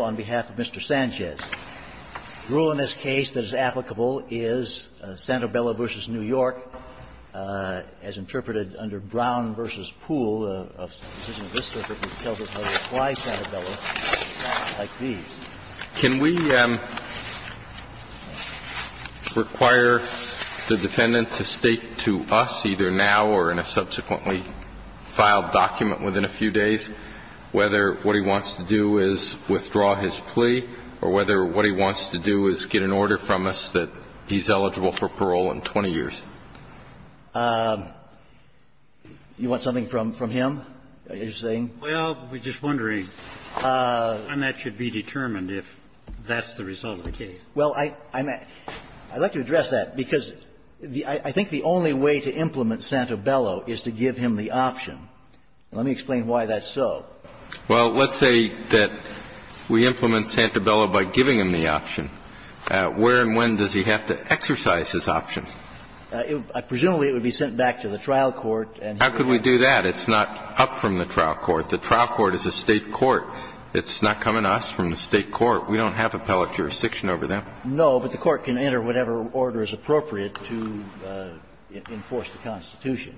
on behalf of Mr. Sanchez. The rule in this case that is applicable is Santabella v. New York, as interpreted under Brown v. Poole, a decision of this circuit that tells us how to apply Santabella, like these. Can we require the defendant to state to us, either now or in the future, that we're in a subsequently filed document within a few days, whether what he wants to do is withdraw his plea, or whether what he wants to do is get an order from us that he's eligible for parole in 20 years? You want something from him, you're saying? Well, we're just wondering when that should be determined, if that's the result of the case. Well, I'd like to address that, because I think the only way to implement Santabella is to give him the option. Let me explain why that's so. Well, let's say that we implement Santabella by giving him the option. Where and when does he have to exercise his option? Presumably, it would be sent back to the trial court and he would have to do that. How could we do that? It's not up from the trial court. The trial court is a State court. It's not coming to us from the State court. We don't have appellate jurisdiction over that. No, but the court can enter whatever order is appropriate to enforce the Constitution.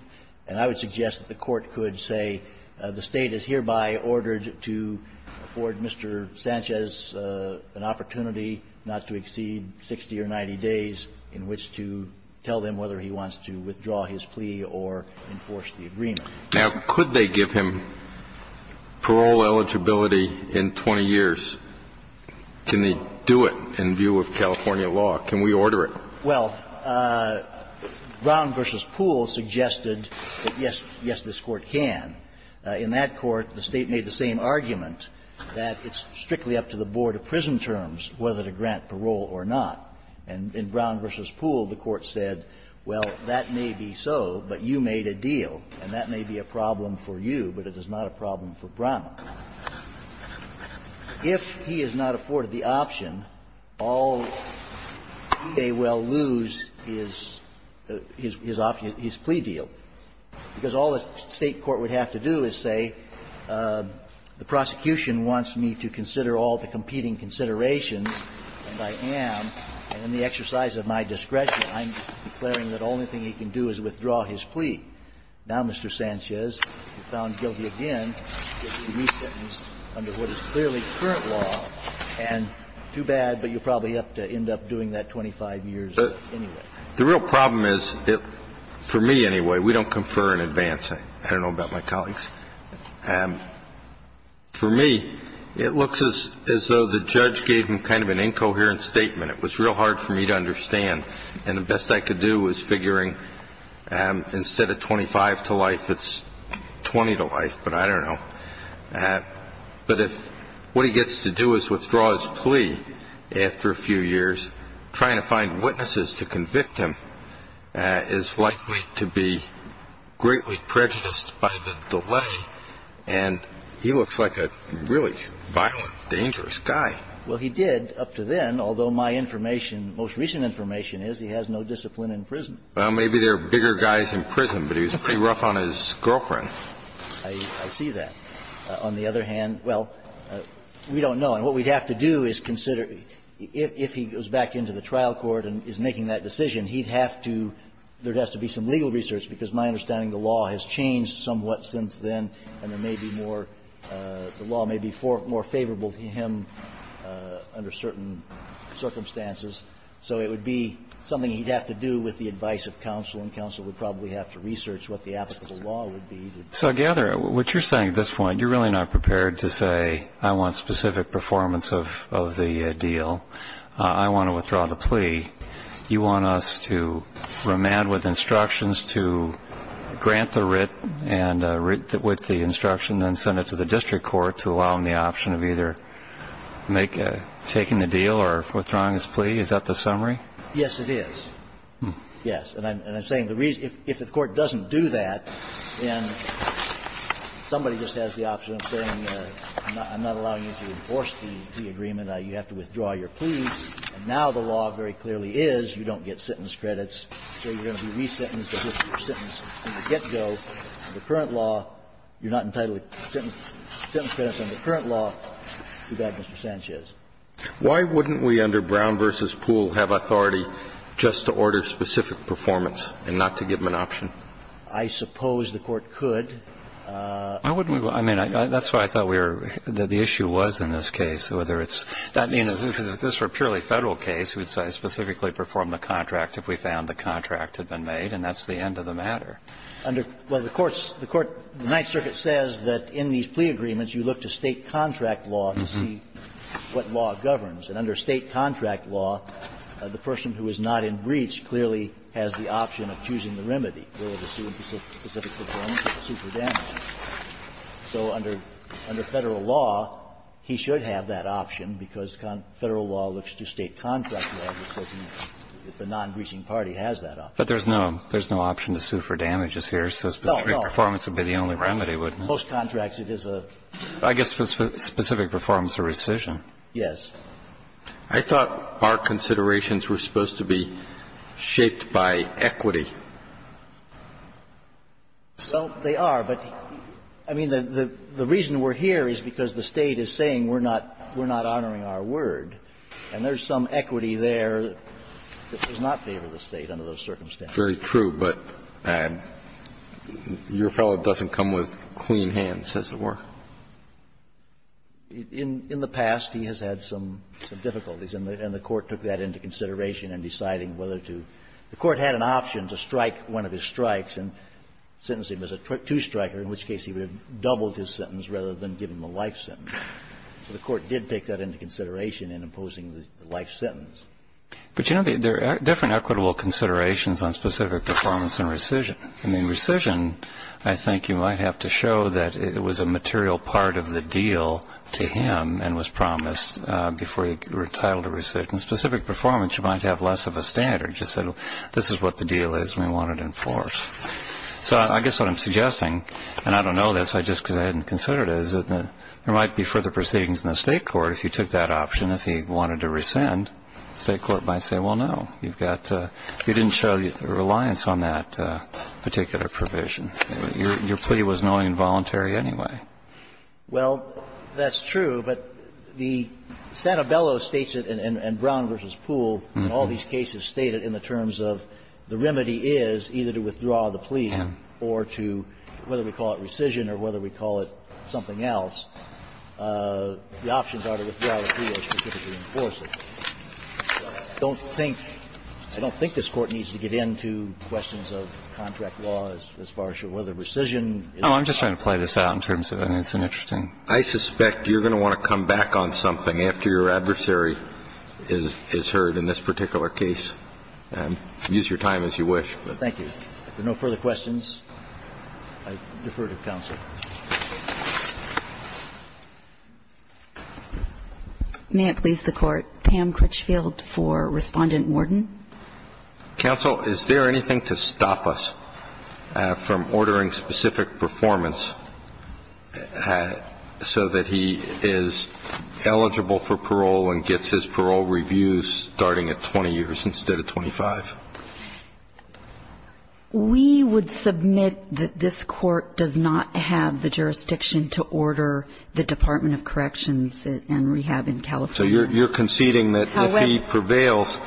And I would suggest that the court could say the State is hereby ordered to afford Mr. Sanchez an opportunity not to exceed 60 or 90 days in which to tell him whether he wants to withdraw his plea or enforce the agreement. Now, could they give him parole eligibility in 20 years? Can they do it in view of California law? Can we order it? Well, Brown v. Poole suggested that, yes, yes, this Court can. In that court, the State made the same argument, that it's strictly up to the board of prison terms whether to grant parole or not. And in Brown v. Poole, the Court said, well, that may be so, but you made a deal, and that may be a problem for you, but it is not a problem for Brown. If he is not afforded the option, all he may well lose is his option, his plea deal. Because all the State court would have to do is say, the prosecution wants me to consider all the competing considerations, and I am, and in the exercise of my discretion, I'm declaring that the only thing he can do is withdraw his plea. Now, Mr. Sanchez, you're found guilty again if he is re-sentenced under what is clearly current law, and too bad, but you'll probably have to end up doing that 25 years anyway. The real problem is, for me anyway, we don't confer in advance. I don't know about my colleagues. For me, it looks as though the judge gave him kind of an incoherent statement. It was real hard for me to understand, and the best I could do was figuring out, instead of 25 to life, it's 20 to life, but I don't know. But if what he gets to do is withdraw his plea after a few years, trying to find witnesses to convict him is likely to be greatly prejudiced by the delay. And he looks like a really violent, dangerous guy. Well, he did up to then, although my information, most recent information is he has no discipline in prison. Well, maybe there are bigger guys in prison, but he was pretty rough on his girlfriend. I see that. On the other hand, well, we don't know. And what we'd have to do is consider if he goes back into the trial court and is making that decision, he'd have to – there'd have to be some legal research, because my understanding, the law has changed somewhat since then, and there may be more – the law may be more favorable to him under certain circumstances. So it would be something he'd have to do with the advice of counsel, and counsel would probably have to research what the applicable law would be. So I gather what you're saying at this point, you're really not prepared to say, I want specific performance of the deal. I want to withdraw the plea. You want us to remand with instructions to grant the writ, and with the instruction, then send it to the district court to allow him the option of either making – taking the deal or withdrawing his plea. Is that the summary? Yes, it is. Yes. And I'm saying the reason – if the court doesn't do that, then somebody just has the option of saying, I'm not allowing you to enforce the agreement. You have to withdraw your plea. And now the law very clearly is you don't get sentence credits, so you're going to be resentenced to a history of sentence in the get-go under current law. You're not entitled to sentence credits under current law. Do that, Mr. Sanchez. Why wouldn't we under Brown v. Poole have authority just to order specific performance and not to give them an option? I suppose the Court could. Why wouldn't we? I mean, that's what I thought we were – that the issue was in this case, whether it's – I mean, if this were a purely Federal case, we'd specifically perform the contract if we found the contract had been made, and that's the end of the matter. Under – well, the Court's – the Court – the Ninth Circuit says that in these And under State contract law, the person who is not in breach clearly has the option of choosing the remedy, whether to sue for specific performance or sue for damage. So under Federal law, he should have that option, because Federal law looks to State contract law, which says if the non-breaching party has that option. But there's no – there's no option to sue for damages here, so specific performance would be the only remedy, wouldn't it? No, no. Most contracts, it is a – I guess specific performance or rescission. Yes. I thought our considerations were supposed to be shaped by equity. Well, they are. But, I mean, the reason we're here is because the State is saying we're not – we're not honoring our word, and there's some equity there that does not favor the State under those circumstances. Very true, but your fellow doesn't come with clean hands, as it were. In the past, he has had some difficulties, and the Court took that into consideration in deciding whether to – the Court had an option to strike one of his strikes and sentence him as a two-striker, in which case he would have doubled his sentence rather than give him a life sentence. So the Court did take that into consideration in imposing the life sentence. But, you know, there are different equitable considerations on specific performance and rescission. But, I mean, rescission, I think you might have to show that it was a material part of the deal to him and was promised before you were entitled to rescission. Specific performance, you might have less of a standard. You just said, well, this is what the deal is, and we want to enforce. So I guess what I'm suggesting, and I don't know this, just because I hadn't considered it, is that there might be further proceedings in the State Court if you took that option. If he wanted to rescind, the State Court might say, well, no, you've got – you didn't show the reliance on that particular provision. Your plea was knowingly involuntary anyway. Well, that's true, but the Santabello states it and Brown v. Poole in all these cases state it in the terms of the remedy is either to withdraw the plea or to, whether we call it rescission or whether we call it something else, the options are to withdraw the plea or specifically enforce it. I don't think – I don't think this Court needs to get into questions of contract law as far as your whether rescission is an option. Oh, I'm just trying to play this out in terms of it. It's interesting. I suspect you're going to want to come back on something after your adversary is heard in this particular case. Use your time as you wish. Thank you. If there are no further questions, I defer to counsel. May it please the Court. Pam Critchfield for Respondent Worden. Counsel, is there anything to stop us from ordering specific performance so that he is eligible for parole and gets his parole review starting at 20 years instead of 25? We would submit that this Court does not have the jurisdiction to order the Department of Corrections and Rehab in California. So you're conceding that if he prevails,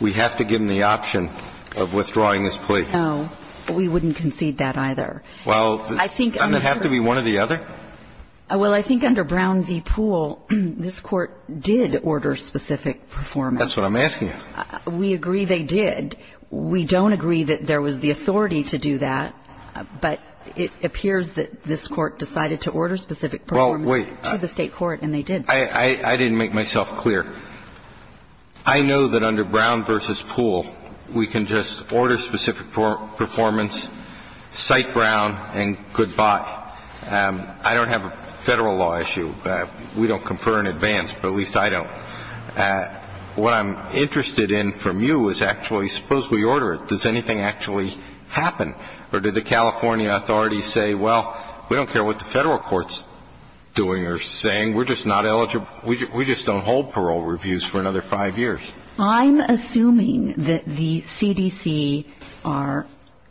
we have to give him the option of withdrawing his plea? No. We wouldn't concede that either. Well, doesn't it have to be one or the other? Well, I think under Brown v. Poole, this Court did order specific performance. That's what I'm asking you. We agree they did. We don't agree that there was the authority to do that. But it appears that this Court decided to order specific performance to the State Court, and they did. I didn't make myself clear. I know that under Brown v. Poole, we can just order specific performance, cite Brown, and goodbye. I don't have a Federal law issue. We don't confer in advance, but at least I don't. What I'm interested in from you is actually suppose we order it. Does anything actually happen? Or did the California authorities say, well, we don't care what the Federal Court's doing or saying. We're just not eligible. We just don't hold parole reviews for another five years. I'm assuming that the CDC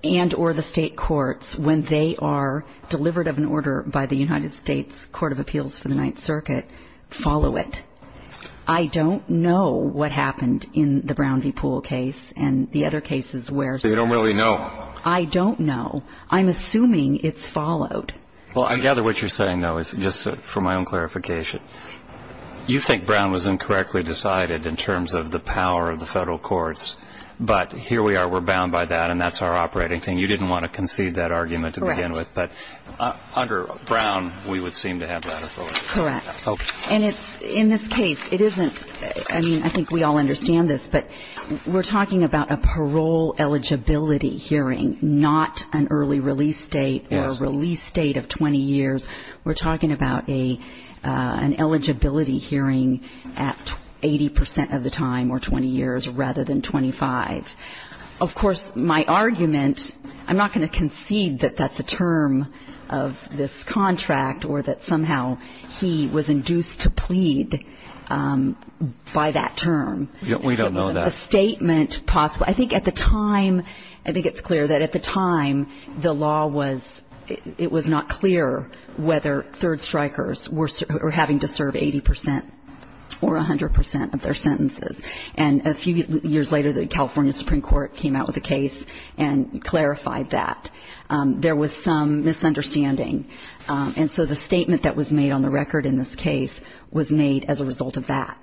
and or the State courts, when they are delivered of an order by the United States Court of Appeals for the Ninth Circuit, follow it. I don't know what happened in the Brown v. Poole case and the other cases where. So you don't really know? I don't know. I'm assuming it's followed. Well, I gather what you're saying, though, is just for my own clarification. You think Brown was incorrectly decided in terms of the power of the Federal courts, but here we are. We're bound by that, and that's our operating thing. You didn't want to concede that argument to begin with. Correct. But under Brown, we would seem to have that authority. Correct. And it's, in this case, it isn't, I mean, I think we all understand this, but we're talking about a parole eligibility hearing, not an early release date or a release date of 20 years. We're talking about an eligibility hearing at 80 percent of the time or 20 years rather than 25. Of course, my argument, I'm not going to concede that that's a term of this was induced to plead by that term. We don't know that. A statement possible. I think at the time, I think it's clear that at the time, the law was, it was not clear whether third strikers were having to serve 80 percent or 100 percent of their sentences. And a few years later, the California Supreme Court came out with a case and clarified that. There was some misunderstanding. And so the statement that was made on the record in this case was made as a result of that.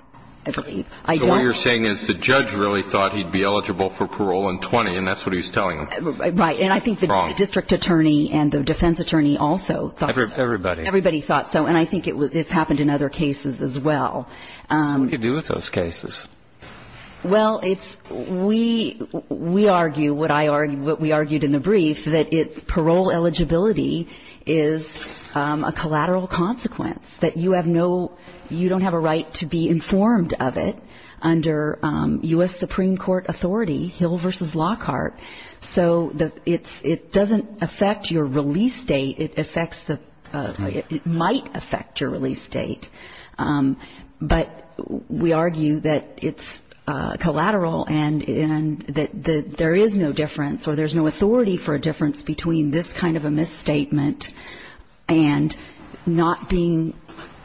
I believe. So what you're saying is the judge really thought he'd be eligible for parole in 20, and that's what he's telling them. Right. And I think the district attorney and the defense attorney also thought so. Everybody. Everybody thought so. And I think it's happened in other cases as well. So what do you do with those cases? Well, it's, we argue what I argue, what we argued in the brief, that parole eligibility is a collateral consequence, that you have no, you don't have a right to be informed of it under U.S. Supreme Court authority, Hill versus Lockhart. So it doesn't affect your release date. It affects the, it might affect your release date. But we argue that it's collateral and that there is no difference or there's no difference between a kind of a misstatement and not being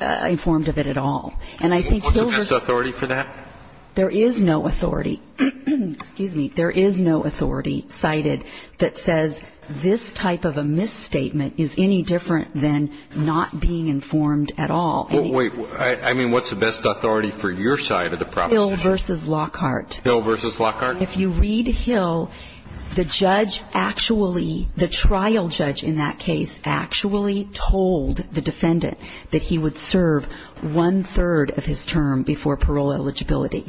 informed of it at all. And I think Hill versus. What's the best authority for that? There is no authority. Excuse me. There is no authority cited that says this type of a misstatement is any different than not being informed at all. Well, wait. I mean, what's the best authority for your side of the proposition? Hill versus Lockhart. Hill versus Lockhart. If you read Hill, the judge actually, the trial judge in that case actually told the defendant that he would serve one-third of his term before parole eligibility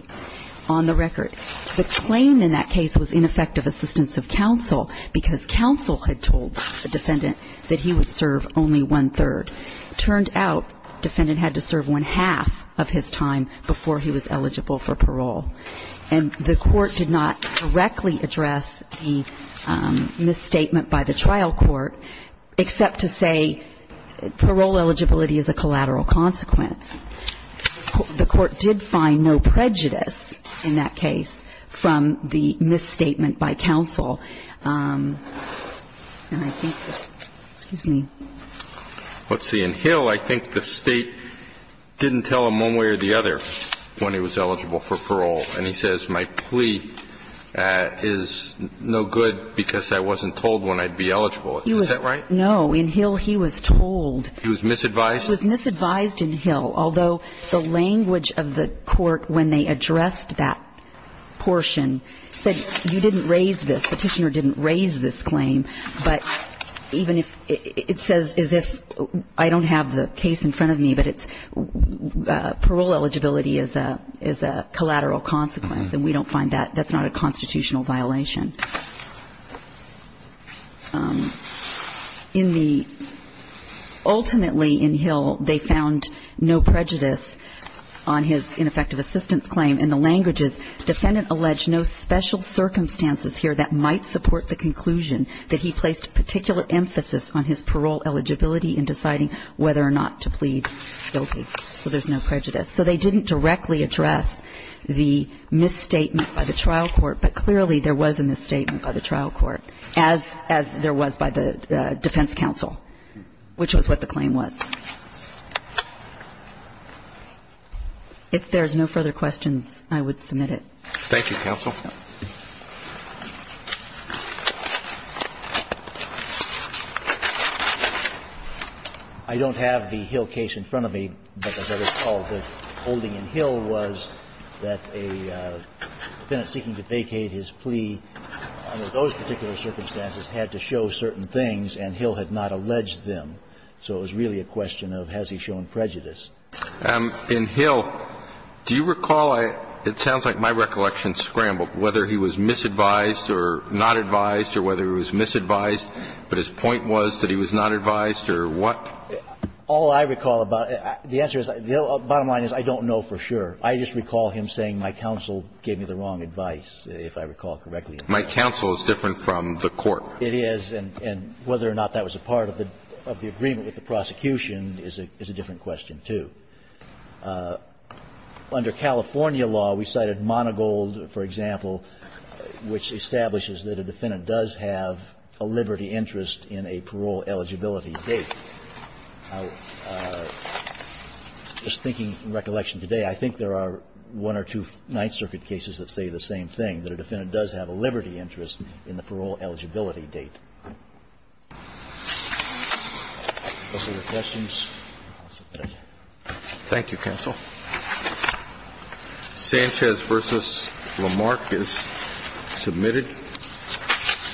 on the record. The claim in that case was ineffective assistance of counsel because counsel had told the defendant that he would serve only one-third. Turned out defendant had to serve one-half of his time before he was eligible for parole. And the court did not directly address the misstatement by the trial court, except to say parole eligibility is a collateral consequence. The court did find no prejudice in that case from the misstatement by counsel. And I think that, excuse me. Let's see. In Hill, I think the State didn't tell him one way or the other when he was eligible for parole, and he says my plea is no good because I wasn't told when I'd be eligible. Is that right? No. In Hill, he was told. He was misadvised? He was misadvised in Hill, although the language of the court when they addressed that portion said you didn't raise this. Petitioner didn't raise this claim. But even if it says as if I don't have the case in front of me, but it's parole eligibility is a collateral consequence, and we don't find that, that's not a constitutional violation. In the ultimately in Hill, they found no prejudice on his ineffective assistance claim. In the languages, defendant alleged no special circumstances here that might support the conclusion that he placed particular emphasis on his parole eligibility in deciding whether or not to plead guilty. So there's no prejudice. So they didn't directly address the misstatement by the trial court, but clearly there was a misstatement by the trial court, as there was by the defense counsel, which was what the claim was. If there's no further questions, I would submit it. Thank you, counsel. I don't have the Hill case in front of me. But as I recall, the holding in Hill was that a defendant seeking to vacate his plea under those particular circumstances had to show certain things, and Hill had not alleged them. So it was really a question of has he shown prejudice. In Hill, do you recall, it sounds like my recollection scrambled, whether he was misadvised or not advised or whether he was misadvised, but his point was that he was not advised or what? All I recall about it, the answer is, the bottom line is I don't know for sure. I just recall him saying my counsel gave me the wrong advice, if I recall correctly. My counsel is different from the court. It is. And whether or not that was a part of the agreement with the prosecution is a different question, too. Under California law, we cited Monogold, for example, which establishes that a defendant does have a liberty interest in a parole eligibility date. Just thinking in recollection today, I think there are one or two Ninth Circuit cases that say the same thing, that a defendant does have a liberty interest in the parole eligibility date. Those are the questions. Thank you, counsel. Sanchez v. Lamarck is submitted.